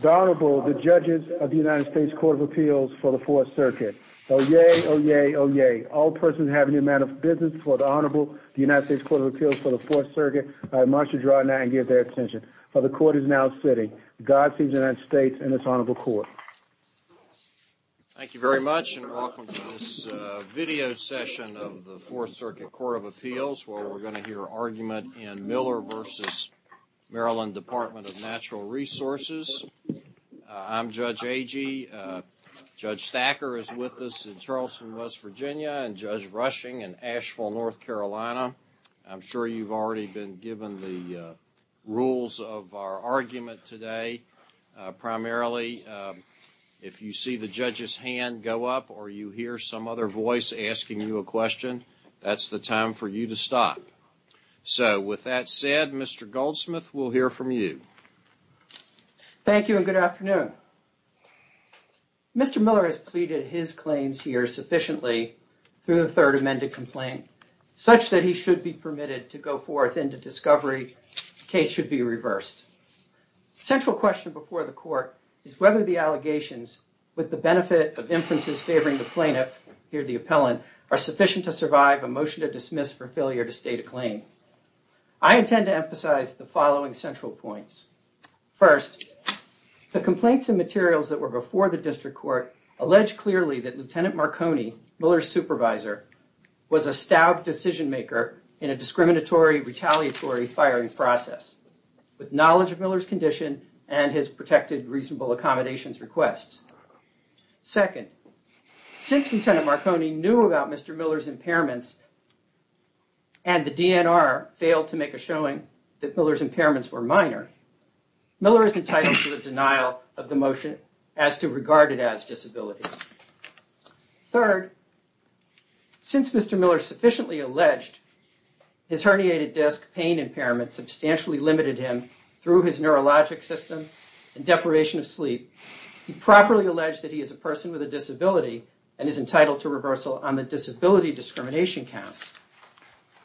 The Honorable, the Judges of the United States Court of Appeals for the Fourth Circuit. Oyez, oyez, oyez. All persons having a matter of business for the Honorable, the United States Court of Appeals for the Fourth Circuit must withdraw now and give their attention. For the Court is now sitting. Godspeed to the United States and this Honorable Court. Thank you very much and welcome to this video session of the Fourth Circuit Court of Appeals where we're going to hear argument in Miller v. MD Dept. of Natural Resources. I'm Judge Agee. Judge Stacker is with us in Charleston, West Virginia and Judge Rushing in Asheville, North Carolina. I'm sure you've already been given the rules of our argument today. Primarily, if you see the Judge's hand go up or you hear some other voice asking you a question, that's the time for you to stop. So, with that said, Mr. Goldsmith, we'll hear from you. Thank you and good afternoon. Mr. Miller has pleaded his claims here sufficiently through the third amended complaint such that he should be permitted to go forth into discovery. Case should be reversed. Central question before the court is whether the allegations with the benefit of inferences favoring the plaintiff, here the appellant, are sufficient to survive a motion to dismiss for failure to state a claim. I intend to emphasize the following central points. First, the complaints and materials that were before the district court alleged clearly that Lieutenant Marconi, Miller's supervisor, was a stout decision maker in a discriminatory, retaliatory firing process with knowledge of Miller's condition and his protected reasonable accommodations requests. Second, since Lieutenant Marconi knew about Mr. Miller's impairments and the DNR failed to make a showing that Miller's impairments were minor, Miller is entitled to the denial of the motion as to regard it as disability. Third, since Mr. Miller sufficiently alleged his herniated disc pain impairment substantially limited him through his neurologic system and deprivation of sleep, he properly alleged that he is a person with a disability and is entitled to reversal on the disability discrimination count.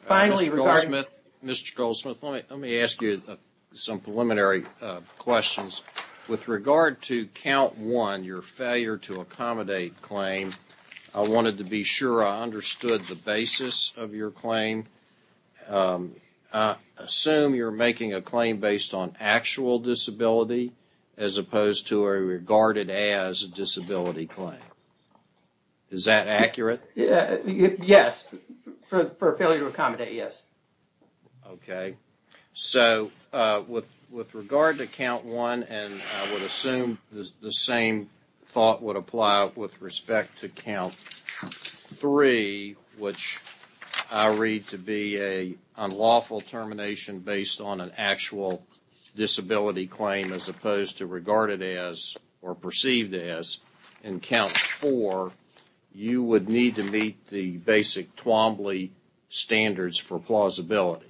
Mr. Goldsmith, let me ask you some preliminary questions. With regard to count one, your failure to accommodate claim, I wanted to be sure I understood the basis of your claim. I assume you're making a claim based on actual disability as opposed to a regarded as disability claim. Is that accurate? Yes. For a failure to accommodate, yes. Okay. So, with regard to count one, and I would assume the same thought would apply with respect to count three, which I read to be an unlawful termination based on an actual disability claim as opposed to regarded as or perceived as. In count four, you would need to meet the basic Twombly standards for plausibility.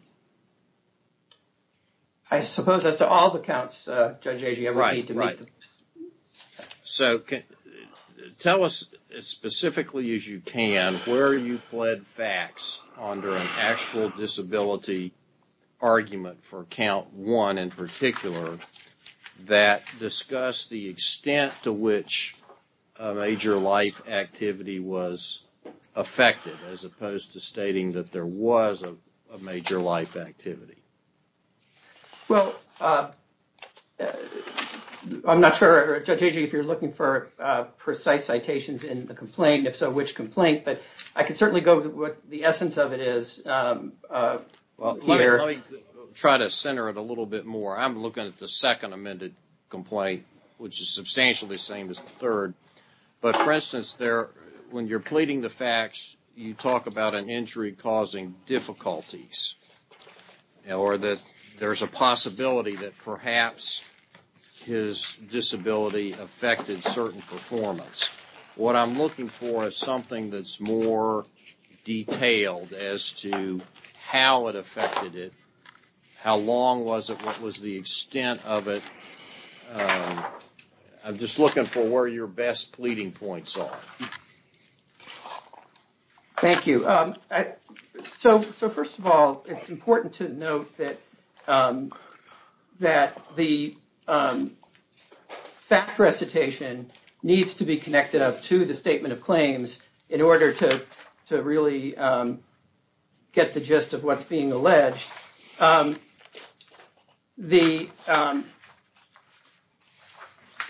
I suppose as to all the counts, Judge Agee, I would need to meet them. So, tell us as specifically as you can where you pled facts under an actual disability argument for count one in particular that discussed the extent to which a major life activity was affected as opposed to stating that there was a major life activity. Well, I'm not sure, Judge Agee, if you're looking for precise citations in the complaint. If so, which complaint? But I can certainly go with what the essence of it is here. Let me try to center it a little bit more. I'm looking at the second amended complaint, which is substantially the same as the third. But, for instance, when you're pleading the facts, you talk about an injury causing difficulties or that there's a possibility that perhaps his disability affected certain performance. What I'm looking for is something that's more detailed as to how it affected it, how long was it, what was the extent of it. I'm just looking for where your best pleading points are. Thank you. So, first of all, it's important to note that the fact recitation needs to be connected up to the statement of claims in order to really get the gist of what's being alleged.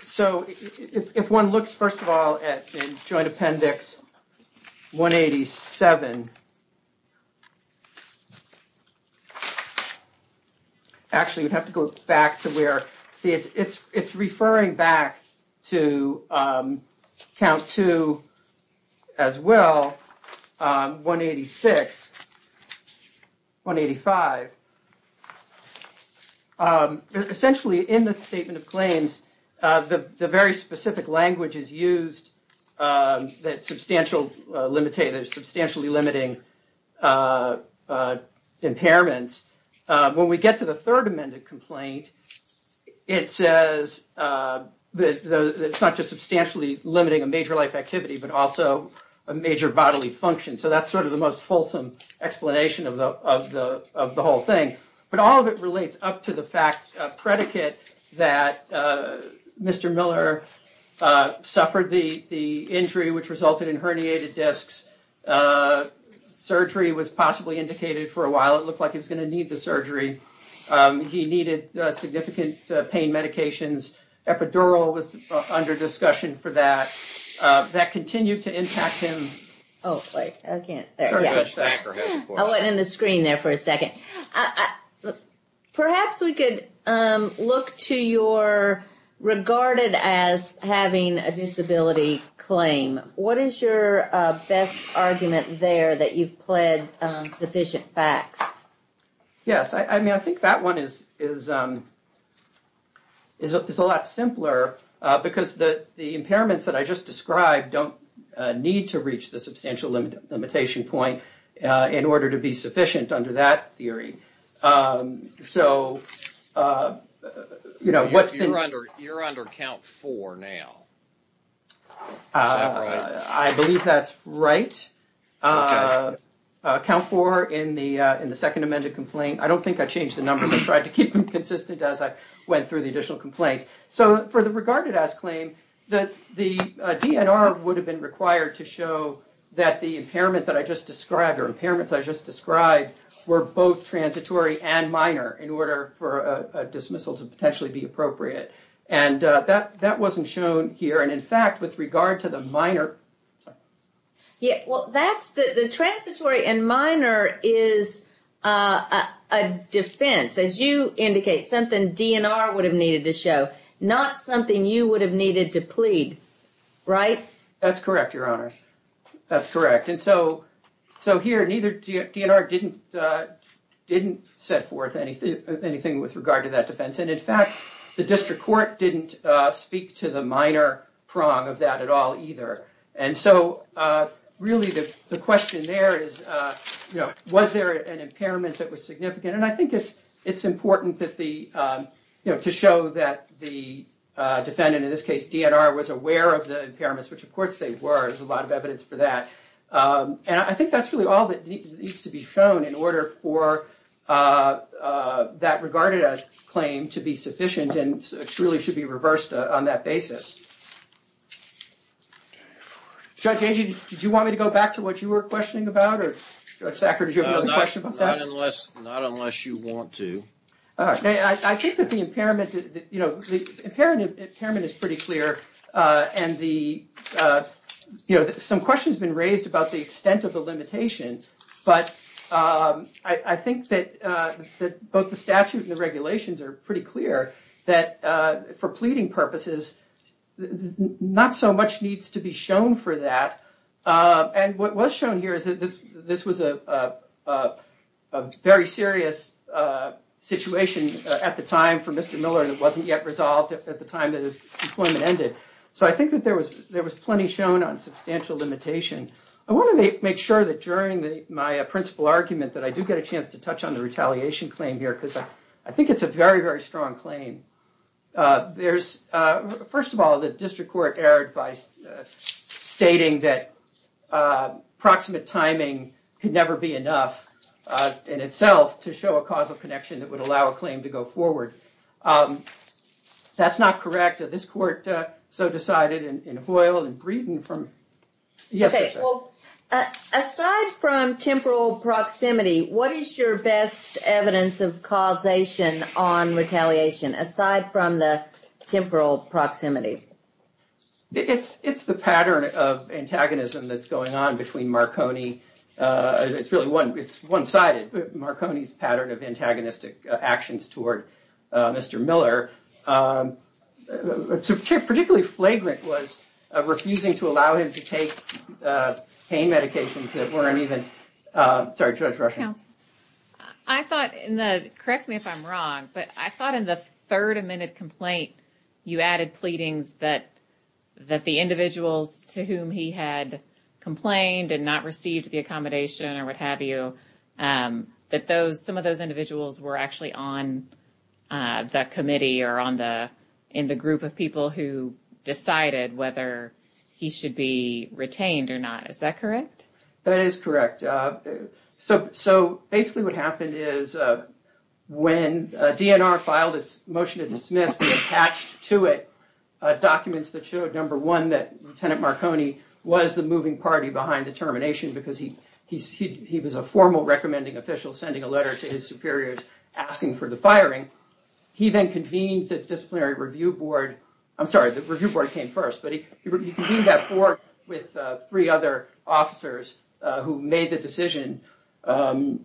So, if one looks, first of all, at Joint Appendix 187, actually, you'd have to go back to where it's referring back to Count 2 as well, 186, 185. Essentially, in the statement of claims, the very specific language is used that substantially limiting impairments. When we get to the third amended complaint, it says that it's not just substantially limiting a major life activity, but also a major bodily function. So, that's sort of the most fulsome explanation of the whole thing. But all of it relates up to the fact predicate that Mr. Miller suffered the injury which resulted in herniated discs. Surgery was possibly indicated for a while. It looked like he was going to need the surgery. He needed significant pain medications. Epidural was under discussion for that. That continued to impact him. I went in the screen there for a second. Perhaps we could look to your regarded as having a disability claim. What is your best argument there that you've pled sufficient facts? Yes, I mean, I think that one is a lot simpler because the impairments that I just described don't need to reach the substantial limitation point in order to be sufficient under that theory. So, you know... You're under Count 4 now. Is that right? I believe that's right. Count 4 in the second amended complaint. I don't think I changed the numbers. I tried to keep them consistent as I went through the additional complaints. So, for the regarded as claim, the DNR would have been required to show that the impairment that I just described or impairments I just described were both transitory and minor in order for a dismissal to potentially be appropriate. That wasn't shown here. In fact, with regard to the minor... The transitory and minor is a defense. As you indicate, something DNR would have needed to show. Not something you would have needed to plead. Right? That's correct, Your Honor. That's correct. And so here, neither DNR didn't set forth anything with regard to that defense. And in fact, the district court didn't speak to the minor prong of that at all either. And so, really, the question there is, was there an impairment that was significant? And I think it's important to show that the defendant, in this case DNR, was aware of the impairments, which of course they were. There's a lot of evidence for that. And I think that's really all that needs to be shown in order for that regarded as claim to be sufficient and truly should be reversed on that basis. Judge Agee, did you want me to go back to what you were questioning about? Or, Judge Thacker, did you have another question about that? Not unless you want to. I think that the impairment is pretty clear and some questions have been raised about the extent of the limitations. But I think that both the statute and the regulations are pretty clear that for pleading purposes, not so much needs to be shown for that. And what was shown here is that this was a very serious situation at the time for Mr. Miller, and it wasn't yet resolved at the time that his employment ended. So I think that there was plenty shown on substantial limitation. I want to make sure that during my principal argument that I do get a chance to touch on the retaliation claim here, because I think it's a very, very strong claim. First of all, the district court erred by stating that proximate timing could never be enough in itself to show a causal connection that would allow a claim to go forward. That's not correct. This court so decided in Hoyle and Breeden from yesterday. Okay. Well, aside from temporal proximity, what is your best evidence of causation on retaliation, aside from the temporal proximity? It's it's the pattern of antagonism that's going on between Marconi. It's really one. It's one sided. Marconi's pattern of antagonistic actions toward Mr. Miller, particularly flagrant, was refusing to allow him to take pain medications that weren't even. I thought in the correct me if I'm wrong, but I thought in the third amended complaint, you added pleadings that that the individuals to whom he had complained and not received the accommodation or what have you, that those some of those individuals were actually on the committee or on the in the group of people who decided whether he should be retained or not. Is that correct? That is correct. So so basically what happened is when DNR filed its motion to dismiss the attached to it documents that showed, number one, that Lieutenant Marconi was the moving party behind the termination because he he he was a formal recommending official sending a letter to his superiors asking for the firing. He then convened the disciplinary review board. I'm sorry, the review board came first, but he convened that board with three other officers who made the decision. Two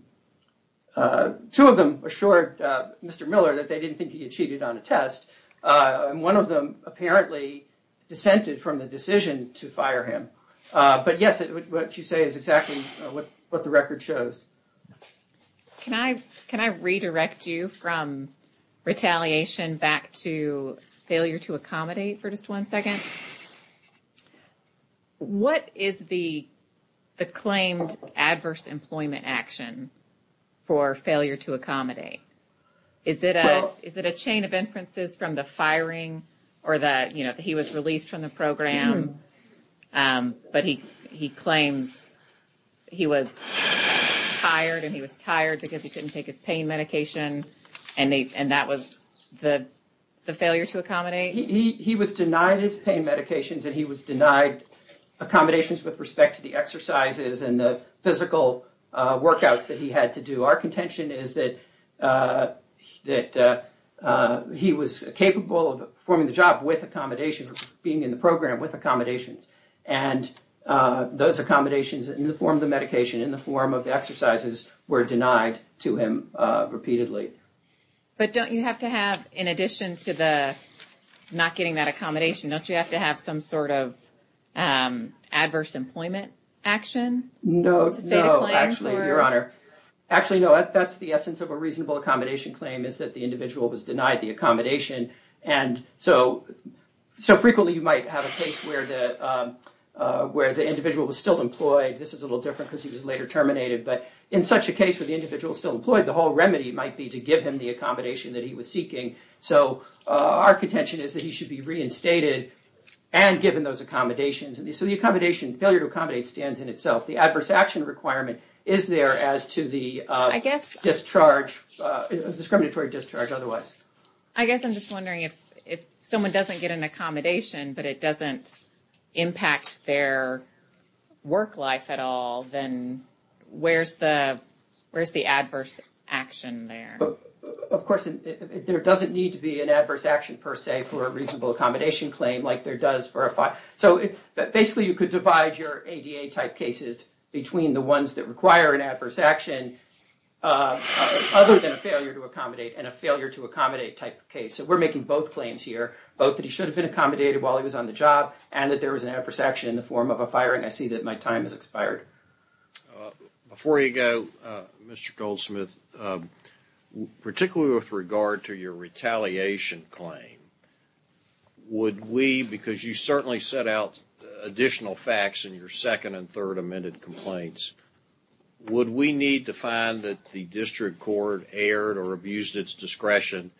of them assured Mr. Miller that they didn't think he had cheated on a test, and one of them apparently dissented from the decision to fire him. But yes, what you say is exactly what the record shows. Can I can I redirect you from retaliation back to failure to accommodate for just one second? What is the the claimed adverse employment action for failure to accommodate? Is it a is it a chain of inferences from the firing or that, you know, he was released from the program, but he he claims he was tired and he was tired because he couldn't take his pain medication. And that was the the failure to accommodate. He was denied his pain medications and he was denied accommodations with respect to the exercises and the physical workouts that he had to do. So our contention is that that he was capable of performing the job with accommodation, being in the program with accommodations and those accommodations in the form of the medication, in the form of the exercises were denied to him repeatedly. But don't you have to have in addition to the not getting that accommodation, don't you have to have some sort of adverse employment action? No, no, actually, Your Honor. Actually, no, that's the essence of a reasonable accommodation claim is that the individual was denied the accommodation. And so so frequently you might have a case where the where the individual was still employed. This is a little different because he was later terminated. But in such a case with the individual still employed, the whole remedy might be to give him the accommodation that he was seeking. So our contention is that he should be reinstated and given those accommodations. And so the accommodation failure to accommodate stands in itself. The adverse action requirement is there as to the I guess discharge discriminatory discharge. Otherwise, I guess I'm just wondering if if someone doesn't get an accommodation, but it doesn't impact their work life at all, then where's the where's the adverse action there? Of course, there doesn't need to be an adverse action per se for a reasonable accommodation claim like there does for a fire. So basically, you could divide your A.D.A. type cases between the ones that require an adverse action other than a failure to accommodate and a failure to accommodate type case. So we're making both claims here, both that he should have been accommodated while he was on the job and that there was an adverse action in the form of a firing. I see that my time has expired. Before you go, Mr. Goldsmith, particularly with regard to your retaliation claim. Would we because you certainly set out additional facts in your second and third amended complaints. Would we need to find that the district court erred or abused its discretion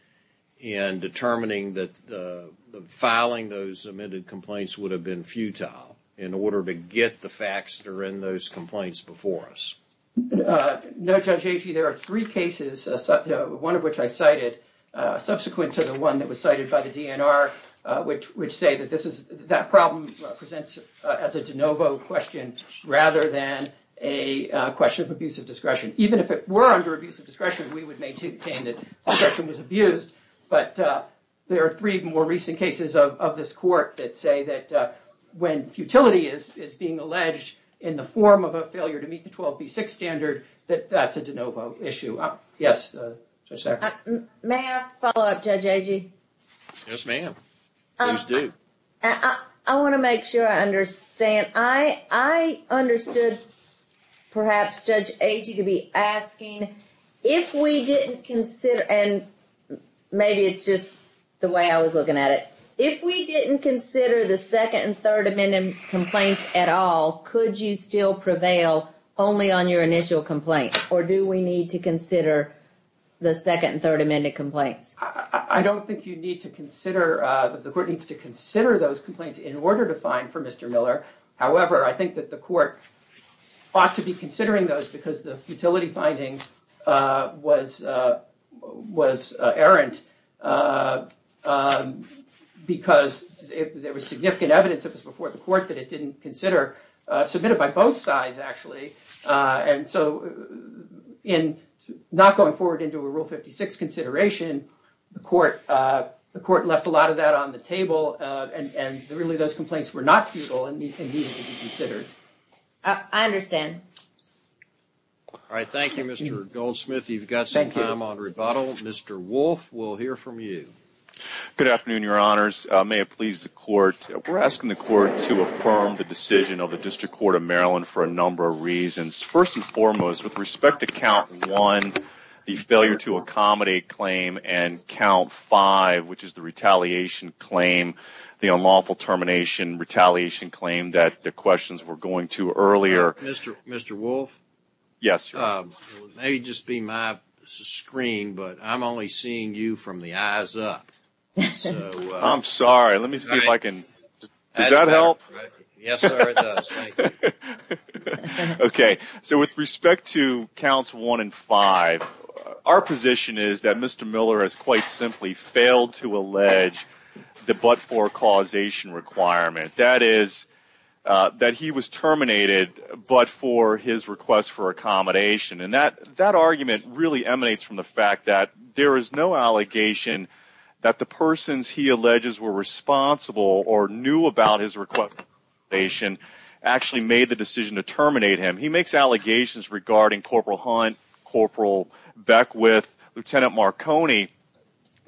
in determining that filing those amended complaints would have been futile in order to get the facts that are in those complaints before us? No, Judge Agee, there are three cases, one of which I cited subsequent to the one that was cited by the DNR, which would say that this is that problem presents as a de novo question rather than a question of abuse of discretion. Even if it were under abuse of discretion, we would maintain that discretion was abused. But there are three more recent cases of this court that say that when futility is being alleged in the form of a failure to meet the 12B6 standard, that that's a de novo issue. May I follow up, Judge Agee? Yes, ma'am. Please do. I want to make sure I understand. I understood perhaps Judge Agee to be asking if we didn't consider and maybe it's just the way I was looking at it. If we didn't consider the Second and Third Amendment complaints at all, could you still prevail only on your initial complaint or do we need to consider the Second and Third Amendment complaints? I don't think you need to consider the court needs to consider those complaints in order to find for Mr. Miller. However, I think that the court ought to be considering those because the futility finding was errant because there was significant evidence that was before the court that it didn't consider submitted by both sides, actually. And so in not going forward into a Rule 56 consideration, the court left a lot of that on the table and really those complaints were not futile and needed to be considered. I understand. All right. Thank you, Mr. Goldsmith. You've got some time on rebuttal. Mr. Wolfe, we'll hear from you. Good afternoon, Your Honors. May it please the court, we're asking the court to affirm the decision of the District Court of Maryland for a number of reasons. First and foremost, with respect to Count 1, the failure to accommodate claim and Count 5, which is the retaliation claim, the unlawful termination retaliation claim that the questions were going to earlier. Mr. Mr. Wolfe? Yes. Maybe just be my screen, but I'm only seeing you from the eyes up. I'm sorry. Let me see if I can. Does that help? Yes, sir. Okay. So with respect to Counts 1 and 5, our position is that Mr. Miller has quite simply failed to allege the but-for causation requirement. That is that he was terminated but for his request for accommodation. And that argument really emanates from the fact that there is no allegation that the persons he alleges were responsible or knew about his request for accommodation actually made the decision to terminate him. He makes allegations regarding Corporal Hunt, Corporal Beckwith, Lieutenant Marconi,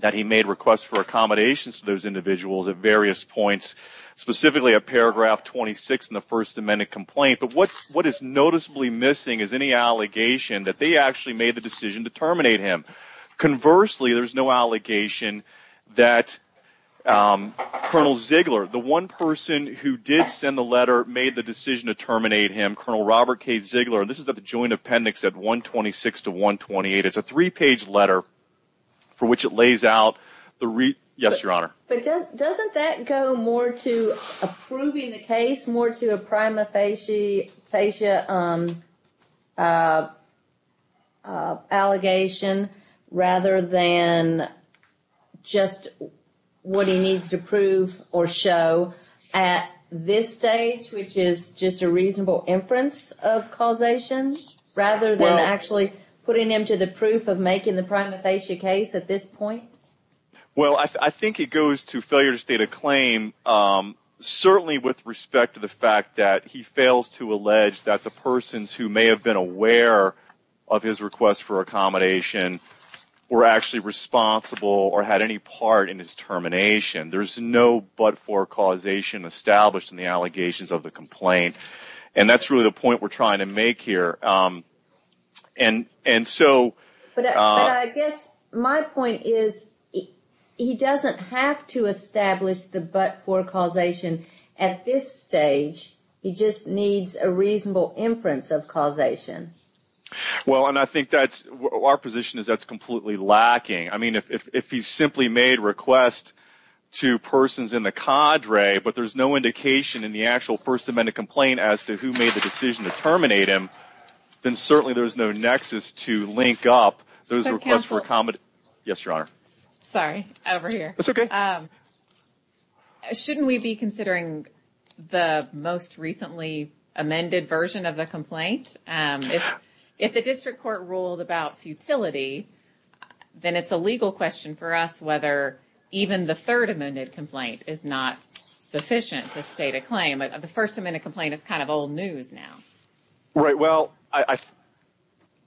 that he made requests for accommodations to those individuals at various points, specifically at paragraph 26 in the First Amendment complaint. But what what is noticeably missing is any allegation that they actually made the decision to terminate him. Conversely, there is no allegation that Colonel Ziegler, the one person who did send the letter, made the decision to terminate him. Colonel Robert K. Ziegler. This is the joint appendix at 126 to 128. It's a three page letter for which it lays out the. Yes, Your Honor. But doesn't that go more to approving the case, more to a prima facie allegation rather than just what he needs to prove or show at this stage, which is just a reasonable inference of causation rather than actually putting him to the proof of making the prima facie case at this point? Well, I think it goes to failure to state a claim, certainly with respect to the fact that he fails to allege that the persons who may have been aware of his request for accommodation were actually responsible or had any part in his termination. There's no but for causation established in the allegations of the complaint. And that's really the point we're trying to make here. But I guess my point is he doesn't have to establish the but for causation at this stage. He just needs a reasonable inference of causation. Well, and I think that's our position is that's completely lacking. I mean, if he's simply made requests to persons in the cadre, but there's no indication in the actual First Amendment complaint as to who made the decision to terminate him, then certainly there's no nexus to link up those requests for accommodation. Yes, Your Honor. Sorry, over here. That's okay. Shouldn't we be considering the most recently amended version of the complaint? If the district court ruled about futility, then it's a legal question for us whether even the Third Amendment complaint is not sufficient to state a claim. The First Amendment complaint is kind of old news now. Right. Well,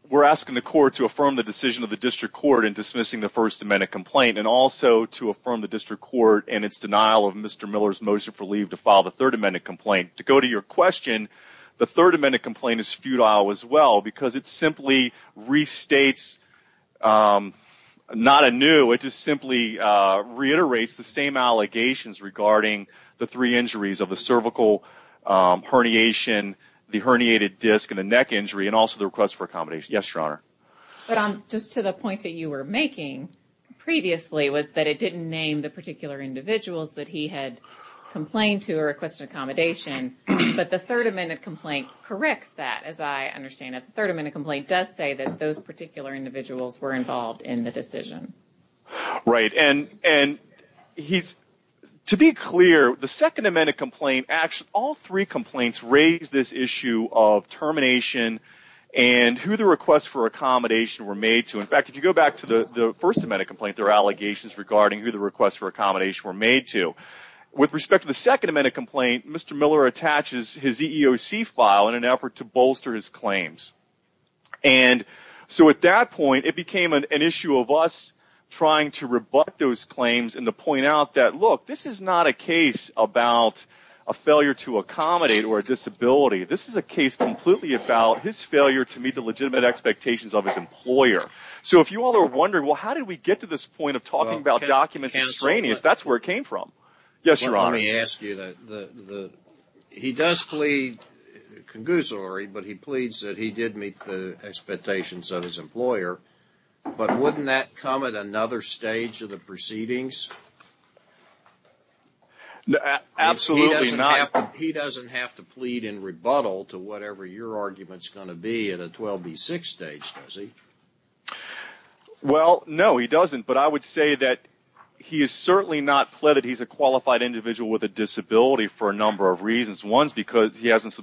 we're asking the court to affirm the decision of the district court in dismissing the First Amendment complaint and also to affirm the district court and its denial of Mr. Miller's motion for leave to file the Third Amendment complaint. To go to your question, the Third Amendment complaint is futile as well because it simply restates, not anew, it just simply reiterates the same allegations regarding the three injuries of the cervical herniation, the herniated disc, and the neck injury and also the request for accommodation. But just to the point that you were making previously was that it didn't name the particular individuals that he had complained to or requested accommodation, but the Third Amendment complaint corrects that, as I understand it. The Third Amendment complaint does say that those particular individuals were involved in the decision. Right. And to be clear, the Second Amendment complaint, all three complaints raise this issue of termination and who the requests for accommodation were made to. In fact, if you go back to the First Amendment complaint, there are allegations regarding who the requests for accommodation were made to. With respect to the Second Amendment complaint, Mr. Miller attaches his EEOC file in an effort to bolster his claims. And so at that point, it became an issue of us trying to rebut those claims and to point out that, look, this is not a case about a failure to accommodate or a disability. This is a case completely about his failure to meet the legitimate expectations of his employer. So if you all are wondering, well, how did we get to this point of talking about documents extraneous, that's where it came from. Yes, Your Honor. Let me ask you, he does plead concussory, but he pleads that he did meet the expectations of his employer. But wouldn't that come at another stage of the proceedings? Absolutely not. He doesn't have to plead in rebuttal to whatever your argument's going to be at a 12B6 stage, does he? Well, no, he doesn't. But I would say that he is certainly not pled that he's a qualified individual with a disability for a number of reasons. One's because he hasn't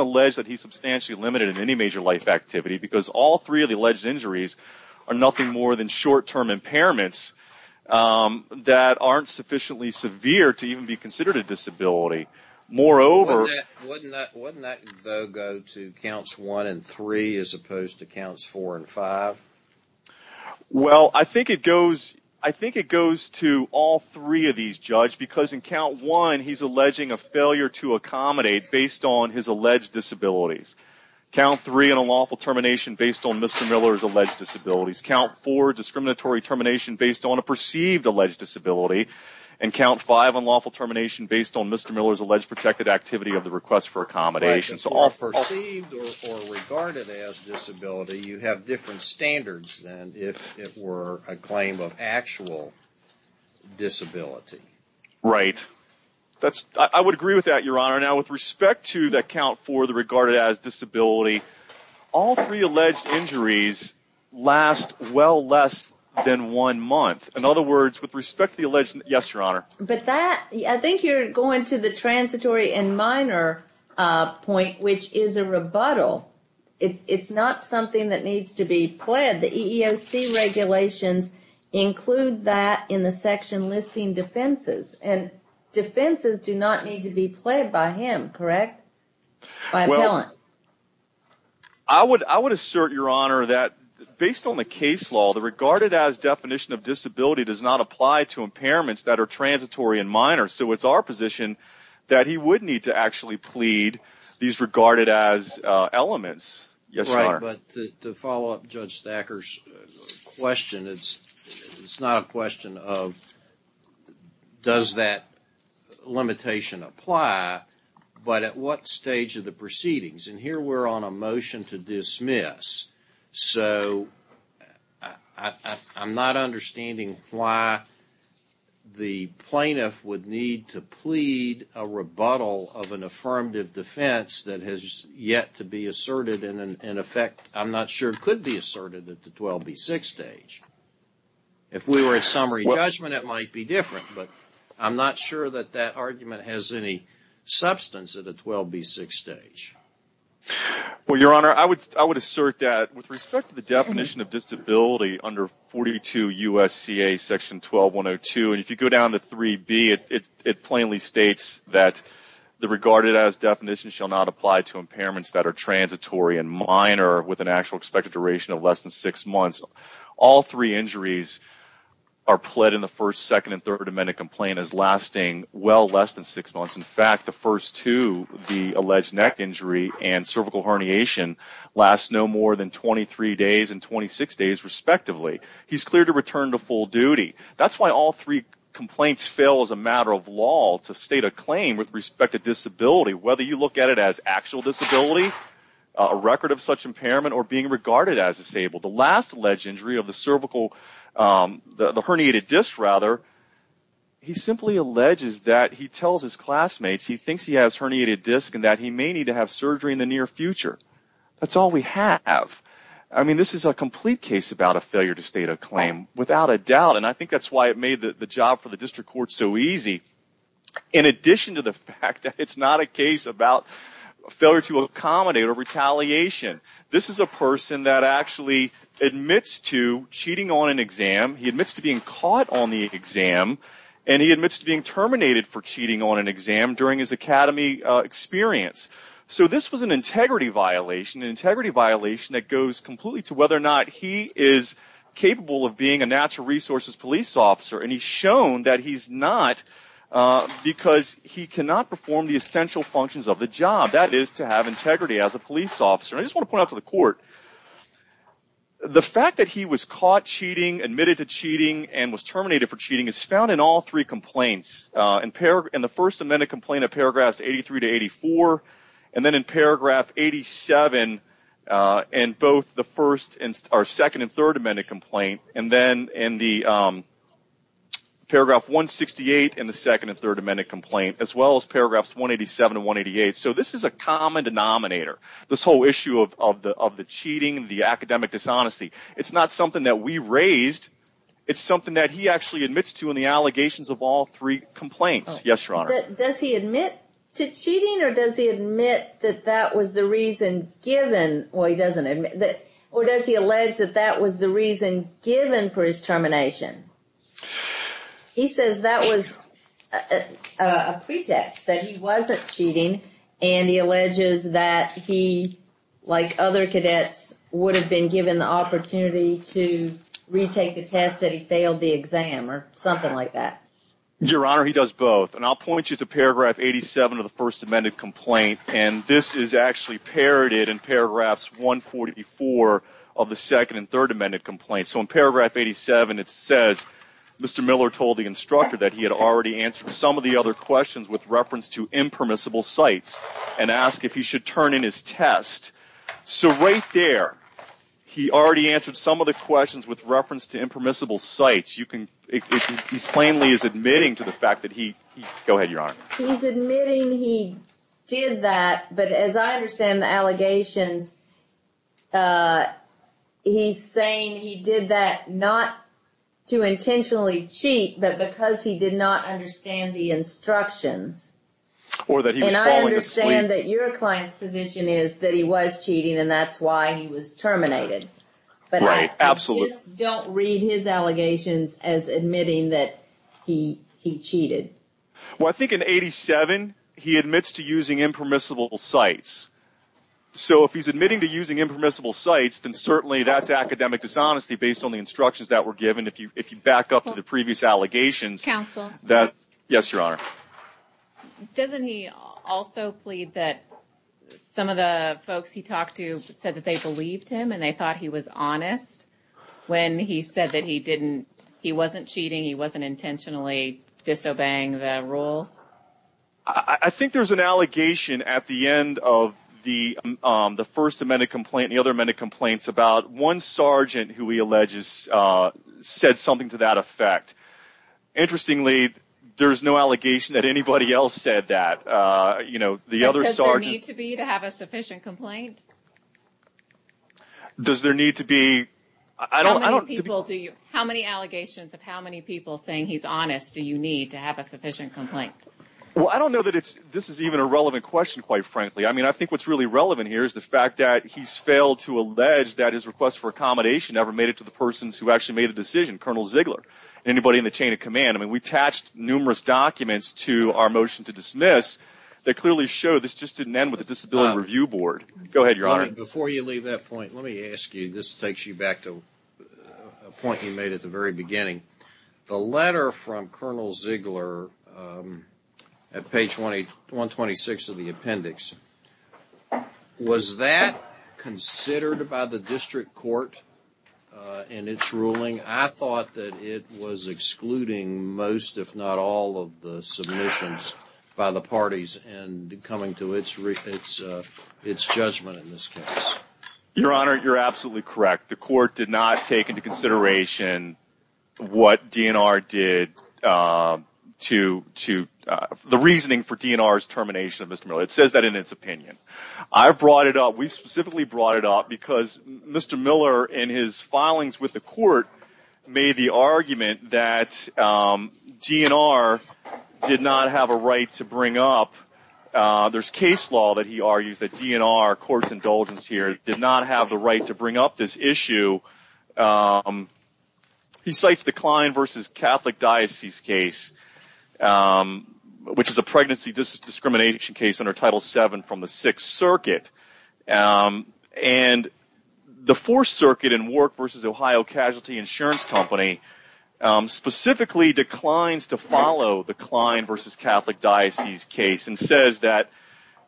alleged that he's substantially limited in any major life activity because all three of the alleged injuries are nothing more than short-term impairments that aren't sufficiently severe to even be considered a disability. Wouldn't that, though, go to Counts 1 and 3 as opposed to Counts 4 and 5? Well, I think it goes to all three of these, Judge, because in Count 1, he's alleging a failure to accommodate based on his alleged disabilities. Count 3, an unlawful termination based on Mr. Miller's alleged disabilities. Count 4, discriminatory termination based on a perceived alleged disability. And Count 5, unlawful termination based on Mr. Miller's alleged protected activity of the request for accommodation. So all perceived or regarded as disability, you have different standards than if it were a claim of actual disability. Right. I would agree with that, Your Honor. Now, with respect to that Count 4, the regarded as disability, all three alleged injuries last well less than one month. In other words, with respect to the alleged, yes, Your Honor. But that, I think you're going to the transitory and minor point, which is a rebuttal. It's not something that needs to be pledged. The EEOC regulations include that in the section listing defenses. And defenses do not need to be pledged by him, correct, by an appellant? I would assert, Your Honor, that based on the case law, the regarded as definition of disability does not apply to impairments that are transitory and minor. So it's our position that he would need to actually plead these regarded as elements. Yes, Your Honor. But to follow up Judge Thacker's question, it's not a question of does that limitation apply, but at what stage of the proceedings? And here we're on a motion to dismiss. So I'm not understanding why the plaintiff would need to plead a rebuttal of an affirmative defense that has yet to be asserted in effect. I'm not sure it could be asserted at the 12B6 stage. If we were at summary judgment, it might be different. But I'm not sure that that argument has any substance at a 12B6 stage. Well, Your Honor, I would assert that with respect to the definition of disability under 42 U.S.C.A. section 12-102, and if you go down to 3B, it plainly states that the regarded as definition shall not apply to impairments that are transitory and minor with an actual expected duration of less than six months. All three injuries are pled in the First, Second, and Third Amendment complaint as lasting well less than six months. In fact, the first two, the alleged neck injury and cervical herniation, last no more than 23 days and 26 days respectively. He's cleared to return to full duty. That's why all three complaints fail as a matter of law to state a claim with respect to disability, whether you look at it as actual disability, a record of such impairment, or being regarded as disabled. The last alleged injury of the cervical, the herniated disc rather, he simply alleges that he tells his classmates he thinks he has herniated disc and that he may need to have surgery in the near future. That's all we have. I mean, this is a complete case about a failure to state a claim without a doubt, and I think that's why it made the job for the district court so easy. In addition to the fact that it's not a case about failure to accommodate or retaliation, this is a person that actually admits to cheating on an exam. He admits to being caught on the exam, and he admits to being terminated for cheating on an exam during his academy experience. So this was an integrity violation, an integrity violation that goes completely to whether or not he is capable of being a natural resources police officer, and he's shown that he's not because he cannot perform the essential functions of the job. That is to have integrity as a police officer. I just want to point out to the court, the fact that he was caught cheating, admitted to cheating, and was terminated for cheating is found in all three complaints, in the first amended complaint of paragraphs 83 to 84, and then in paragraph 87 in both the second and third amended complaint, and then in the paragraph 168 in the second and third amended complaint, as well as paragraphs 187 and 188. So this is a common denominator. This whole issue of the cheating, the academic dishonesty, it's not something that we raised. It's something that he actually admits to in the allegations of all three complaints. Yes, Your Honor. Does he admit to cheating, or does he admit that that was the reason given? Well, he doesn't admit that, or does he allege that that was the reason given for his termination? He says that was a pretext, that he wasn't cheating, and he alleges that he, like other cadets, would have been given the opportunity to retake the test, that he failed the exam, or something like that. Your Honor, he does both, and I'll point you to paragraph 87 of the first amended complaint, and this is actually parroted in paragraphs 144 of the second and third amended complaint. So in paragraph 87, it says, Mr. Miller told the instructor that he had already answered some of the other questions with reference to impermissible sites, and asked if he should turn in his test. So right there, he already answered some of the questions with reference to impermissible sites. You can—he plainly is admitting to the fact that he—go ahead, Your Honor. He's admitting he did that, but as I understand the allegations, he's saying he did that not to intentionally cheat, but because he did not understand the instructions. Or that he was falling asleep. And I understand that your client's position is that he was cheating, and that's why he was terminated. Right, absolutely. But I just don't read his allegations as admitting that he cheated. Well, I think in 87, he admits to using impermissible sites. So if he's admitting to using impermissible sites, then certainly that's academic dishonesty based on the instructions that were given. If you back up to the previous allegations— Counsel. Yes, Your Honor. Doesn't he also plead that some of the folks he talked to said that they believed him, and they thought he was honest when he said that he didn't—he wasn't cheating, he wasn't intentionally disobeying the rules? I think there's an allegation at the end of the first amended complaint and the other amended complaints about one sergeant who he alleges said something to that effect. Interestingly, there's no allegation that anybody else said that. You know, the other sergeant— Does there need to be to have a sufficient complaint? Does there need to be— How many allegations of how many people saying he's honest do you need to have a sufficient complaint? Well, I don't know that this is even a relevant question, quite frankly. I mean, I think what's really relevant here is the fact that he's failed to allege that his request for accommodation ever made it to the persons who actually made the decision, Colonel Ziegler, anybody in the chain of command. I mean, we attached numerous documents to our motion to dismiss that clearly show this just didn't end with a disability review board. Go ahead, Your Honor. Before you leave that point, let me ask you— this takes you back to a point you made at the very beginning. The letter from Colonel Ziegler at page 126 of the appendix, was that considered by the district court in its ruling? I thought that it was excluding most, if not all, of the submissions by the parties and coming to its judgment in this case. Your Honor, you're absolutely correct. The court did not take into consideration what DNR did to— the reasoning for DNR's termination of Mr. Miller. It says that in its opinion. I brought it up. We specifically brought it up because Mr. Miller, in his filings with the court, made the argument that DNR did not have a right to bring up— there's case law that he argues that DNR, court's indulgence here, did not have the right to bring up this issue. He cites the Kline v. Catholic Diocese case, which is a pregnancy discrimination case under Title VII from the Sixth Circuit. The Fourth Circuit and Work v. Ohio Casualty Insurance Company specifically declines to follow the Kline v. Catholic Diocese case and says that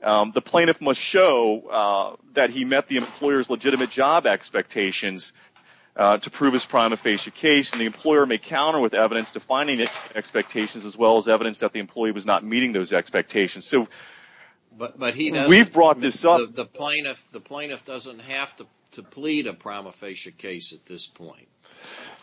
the plaintiff must show that he met the employer's legitimate job expectations to prove his prima facie case, and the employer may counter with evidence defining his expectations as well as evidence that the employee was not meeting those expectations. We've brought this up. The plaintiff doesn't have to plead a prima facie case at this point.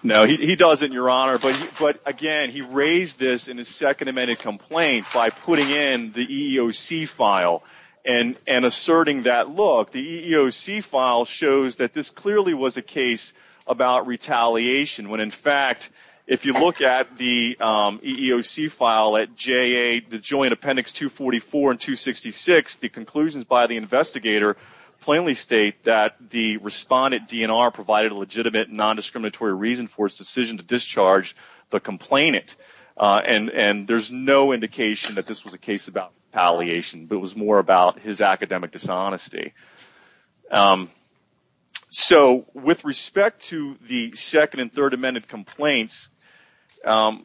No, he doesn't, Your Honor. But, again, he raised this in his second amended complaint by putting in the EEOC file and asserting that, look, the EEOC file shows that this clearly was a case about retaliation, when, in fact, if you look at the EEOC file at JA, the joint appendix 244 and 266, the conclusions by the investigator plainly state that the respondent, DNR, provided a legitimate, nondiscriminatory reason for his decision to discharge the complainant, and there's no indication that this was a case about retaliation, but it was more about his academic dishonesty. So, with respect to the second and third amended complaints, all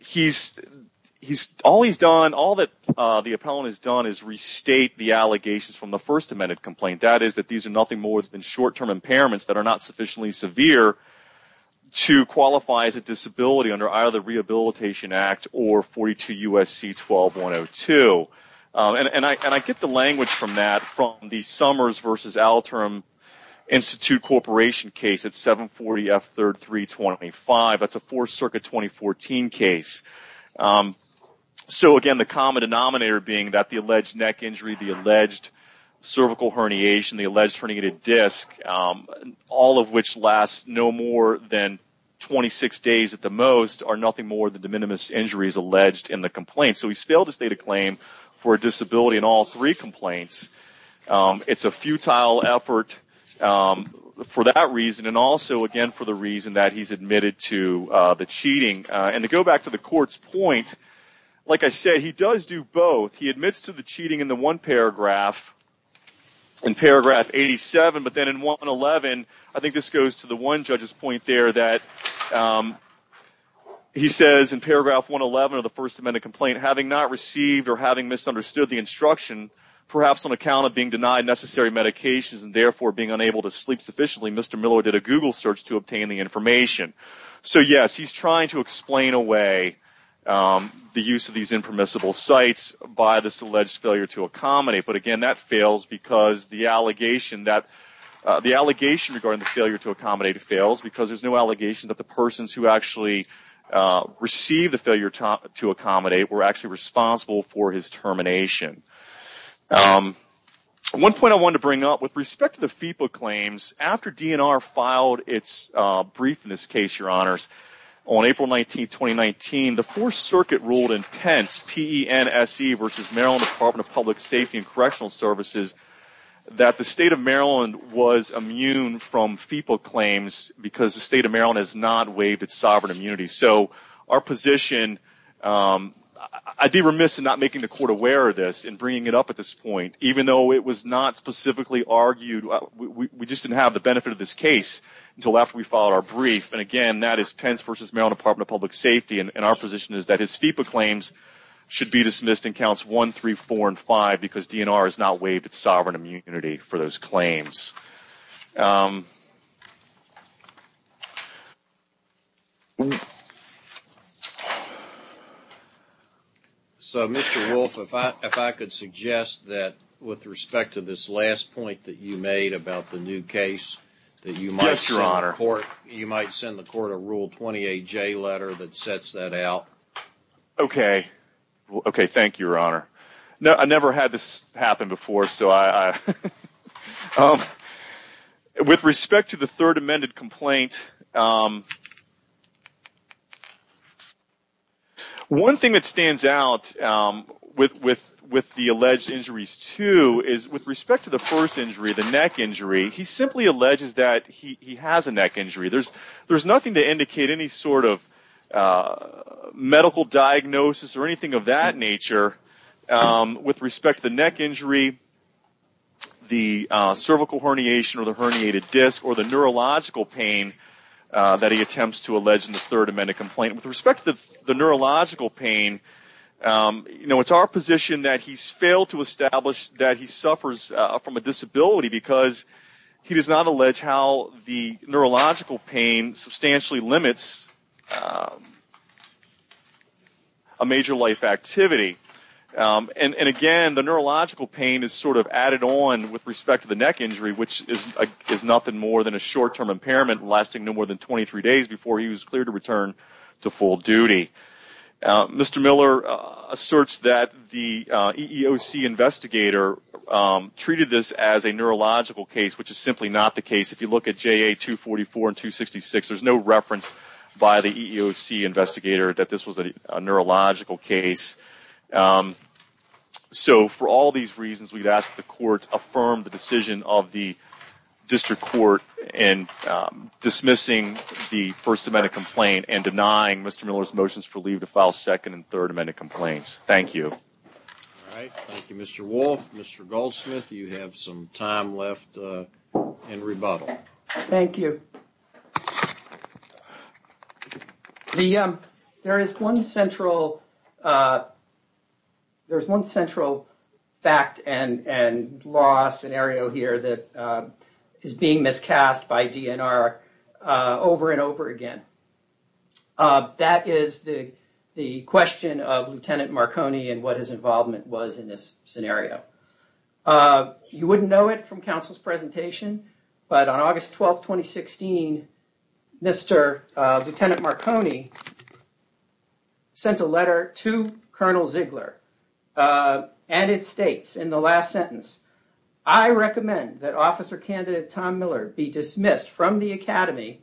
that the appellant has done is restate the allegations from the first amended complaint, that is that these are nothing more than short-term impairments that are not sufficiently severe to qualify as a disability under either the Rehabilitation Act or 42 U.S.C. 12-102. And I get the language from that from the Summers v. Alterm Institute Corporation case at 740 F. 3rd 325. That's a Fourth Circuit 2014 case. So, again, the common denominator being that the alleged neck injury, the alleged cervical herniation, the alleged herniated disc, all of which last no more than 26 days at the most, are nothing more than de minimis injuries alleged in the complaint. So he's failed to state a claim for a disability in all three complaints. It's a futile effort for that reason, and also, again, for the reason that he's admitted to the cheating. And to go back to the court's point, like I said, he does do both. He admits to the cheating in the one paragraph, in paragraph 87, but then in 111, I think this goes to the one judge's point there that he says in paragraph 111 of the first amended complaint, having not received or having misunderstood the instruction, perhaps on account of being denied necessary medications and therefore being unable to sleep sufficiently, Mr. Millow did a Google search to obtain the information. So, yes, he's trying to explain away the use of these impermissible sites by this alleged failure to accommodate. But, again, that fails because the allegation regarding the failure to accommodate fails because there's no allegation that the persons who actually received the failure to accommodate were actually responsible for his termination. One point I wanted to bring up with respect to the FEPA claims, after DNR filed its brief in this case, Your Honors, on April 19, 2019, the Fourth Circuit ruled in Pence PENSE versus Maryland Department of Public Safety and Correctional Services that the state of Maryland was immune from FEPA claims because the state of Maryland has not waived its sovereign immunity. So our position, I'd be remiss in not making the court aware of this and bringing it up at this point, even though it was not specifically argued, we just didn't have the benefit of this case until after we filed our brief. And, again, that is Pence versus Maryland Department of Public Safety, and our position is that his FEPA claims should be dismissed in counts 1, 3, 4, and 5 because DNR has not waived its sovereign immunity for those claims. So, Mr. Wolfe, if I could suggest that with respect to this last point that you made about the new case, that you might send the court a Rule 20-AJ letter that sets that out. Okay, thank you, Your Honor. I never had this happen before, so I... With respect to the third amended complaint, one thing that stands out with the alleged injuries, too, is with respect to the first injury, the neck injury, he simply alleges that he has a neck injury. There's nothing to indicate any sort of medical diagnosis or anything of that nature. With respect to the neck injury, the cervical herniation or the herniated disc, or the neurological pain that he attempts to allege in the third amended complaint, with respect to the neurological pain, it's our position that he's failed to establish that he suffers from a disability because he does not allege how the neurological pain substantially limits a major life activity. And again, the neurological pain is sort of added on with respect to the neck injury, which is nothing more than a short-term impairment lasting no more than 23 days before he was cleared to return to full duty. Mr. Miller asserts that the EEOC investigator treated this as a neurological case, which is simply not the case. If you look at JA 244 and 266, there's no reference by the EEOC investigator that this was a neurological case. So for all these reasons, we've asked the court to affirm the decision of the district court in dismissing the first amended complaint and denying Mr. Miller's motions for leave to file second and third amended complaints. Thank you. All right. Thank you, Mr. Wolf. Mr. Goldsmith, you have some time left in rebuttal. Thank you. There is one central fact and law scenario here that is being miscast by DNR over and over again. That is the question of Lieutenant Marconi and what his involvement was in this scenario. You wouldn't know it from counsel's presentation. But on August 12th, 2016, Mr. Lieutenant Marconi sent a letter to Colonel Ziegler and it states in the last sentence, I recommend that officer candidate Tom Miller be dismissed from the academy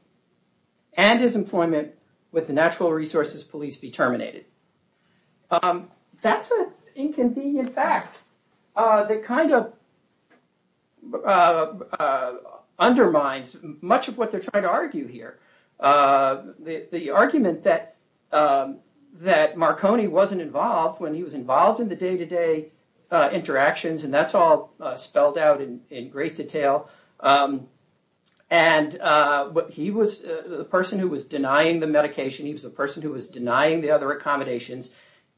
and his employment with the Natural Resources Police be terminated. That's an inconvenient fact that kind of undermines much of what they're trying to argue here. The argument that Marconi wasn't involved when he was involved in the day to day interactions, and that's all spelled out in great detail. He was the person who was denying the medication. He was the person who was denying the other accommodations.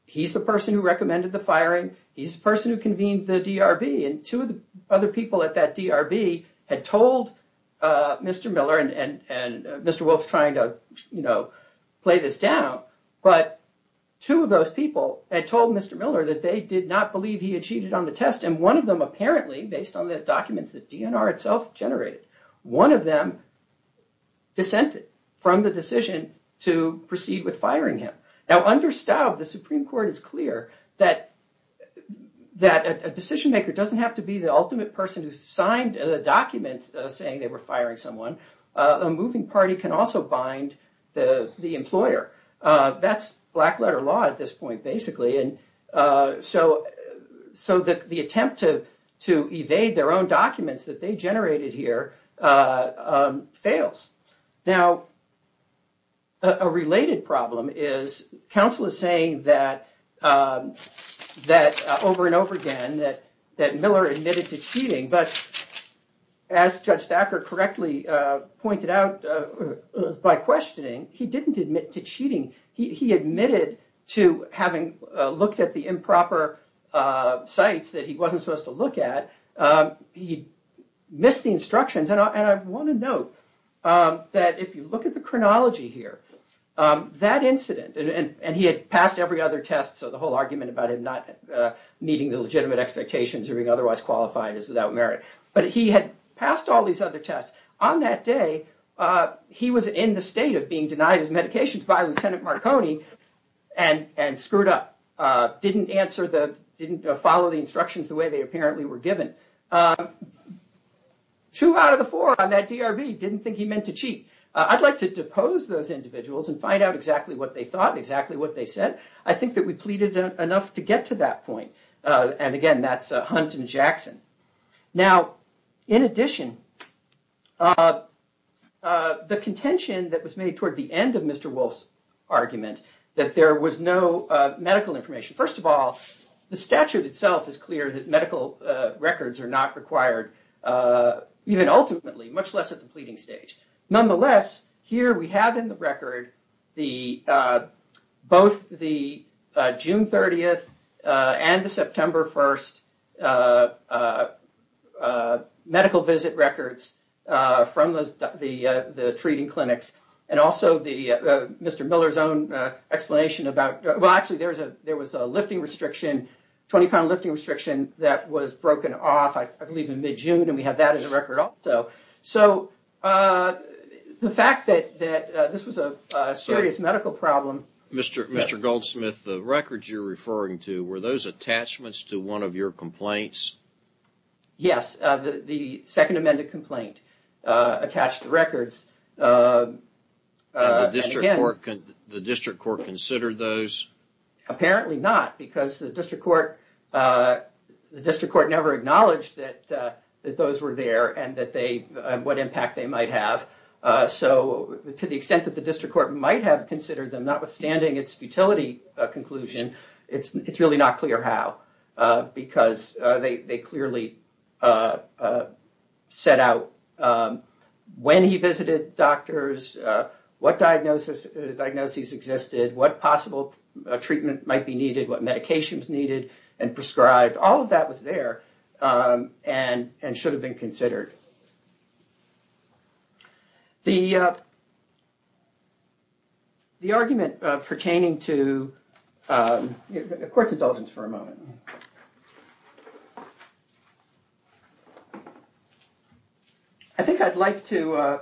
He's the person who recommended the firing. He's the person who convened the DRB. Two of the other people at that DRB had told Mr. Miller, and Mr. Wolf is trying to play this down, but two of those people had told Mr. Miller that they did not believe he had cheated on the test. And one of them apparently, based on the documents that DNR itself generated, one of them dissented from the decision to proceed with firing him. Now, under Staub, the Supreme Court is clear that a decision maker doesn't have to be the ultimate person who signed a document saying they were firing someone. A moving party can also bind the employer. That's black letter law at this point, basically. So the attempt to evade their own documents that they generated here fails. Now, a related problem is counsel is saying that over and over again that Miller admitted to cheating, but as Judge Thacker correctly pointed out by questioning, he didn't admit to cheating. He admitted to having looked at the improper sites that he wasn't supposed to look at. He missed the instructions. And I want to note that if you look at the chronology here, that incident, and he had passed every other test, so the whole argument about him not meeting the legitimate expectations or being otherwise qualified is without merit. But he had passed all these other tests. On that day, he was in the state of being denied his medications by Lieutenant Marconi and screwed up. Didn't follow the instructions the way they apparently were given. Two out of the four on that DRV didn't think he meant to cheat. I'd like to depose those individuals and find out exactly what they thought, exactly what they said. I think that we pleaded enough to get to that point. And again, that's Hunt and Jackson. Now, in addition, the contention that was made toward the end of Mr. Wolf's argument that there was no medical information. First of all, the statute itself is clear that medical records are not required, even ultimately, much less at the pleading stage. Nonetheless, here we have in the record both the June 30th and the September 1st medical visit records from the treating clinics. And also Mr. Miller's own explanation about... Well, actually, there was a 20-pound lifting restriction that was broken off, I believe, in mid-June. And we have that in the record also. So the fact that this was a serious medical problem... Mr. Goldsmith, the records you're referring to, were those attachments to one of your complaints? Yes, the Second Amendment complaint attached records. And the district court considered those? Apparently not, because the district court never acknowledged that those were there and what impact they might have. So to the extent that the district court might have considered them, notwithstanding its futility conclusion, it's really not clear how. Because they clearly set out when he visited doctors, what diagnoses existed, what possible treatment might be needed, what medications needed and prescribed. All of that was there and should have been considered. The argument pertaining to... Court's indulgence for a moment. I think I'd like to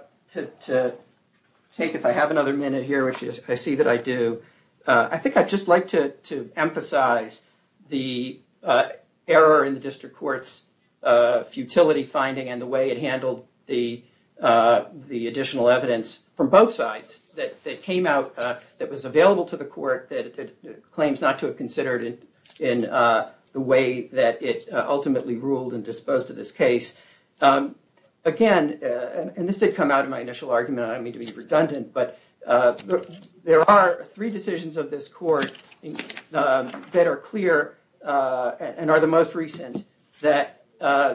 take, if I have another minute here, which I see that I do, I think I'd just like to emphasize the error in the district court's futility finding and the way it handled the additional evidence from both sides. That came out, that was available to the court, that it claims not to have considered it in the way that it ultimately ruled and disposed of this case. Again, and this did come out in my initial argument, I don't mean to be redundant, but there are three decisions of this court that are clear and are the most recent. That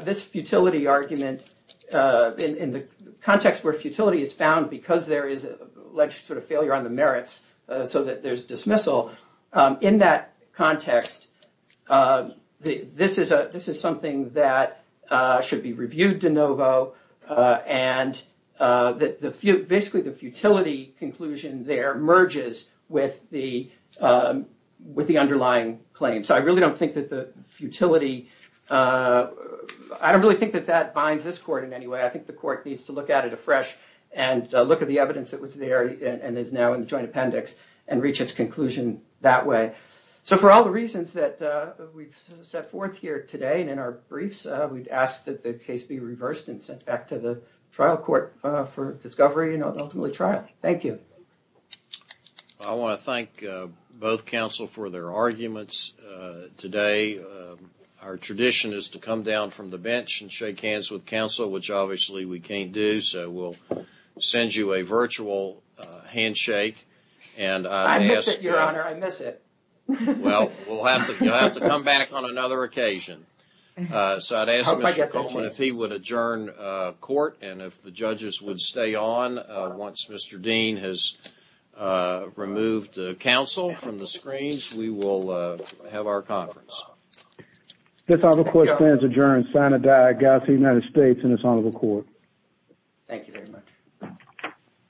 this futility argument, in the context where futility is found because there is alleged sort of failure on the merits so that there's dismissal. In that context, this is something that should be reviewed de novo. Basically, the futility conclusion there merges with the underlying claim. I really don't think that the futility, I don't really think that binds this court in any way. I think the court needs to look at it afresh and look at the evidence that was there and is now in the joint appendix and reach its conclusion that way. For all the reasons that we've set forth here today and in our briefs, we'd ask that the case be reversed and sent back to the trial court for discovery and ultimately trial. Thank you. I want to thank both counsel for their arguments today. Our tradition is to come down from the bench and shake hands with counsel, which obviously we can't do, so we'll send you a virtual handshake. I miss it, your honor, I miss it. Well, you'll have to come back on another occasion. So I'd ask Mr. Coleman if he would adjourn court and if the judges would stay on once Mr. Dean has removed counsel from the screens, we will have our conference. This honorable court stands adjourned. Signed and diagnosed by the United States in this honorable court. Thank you very much.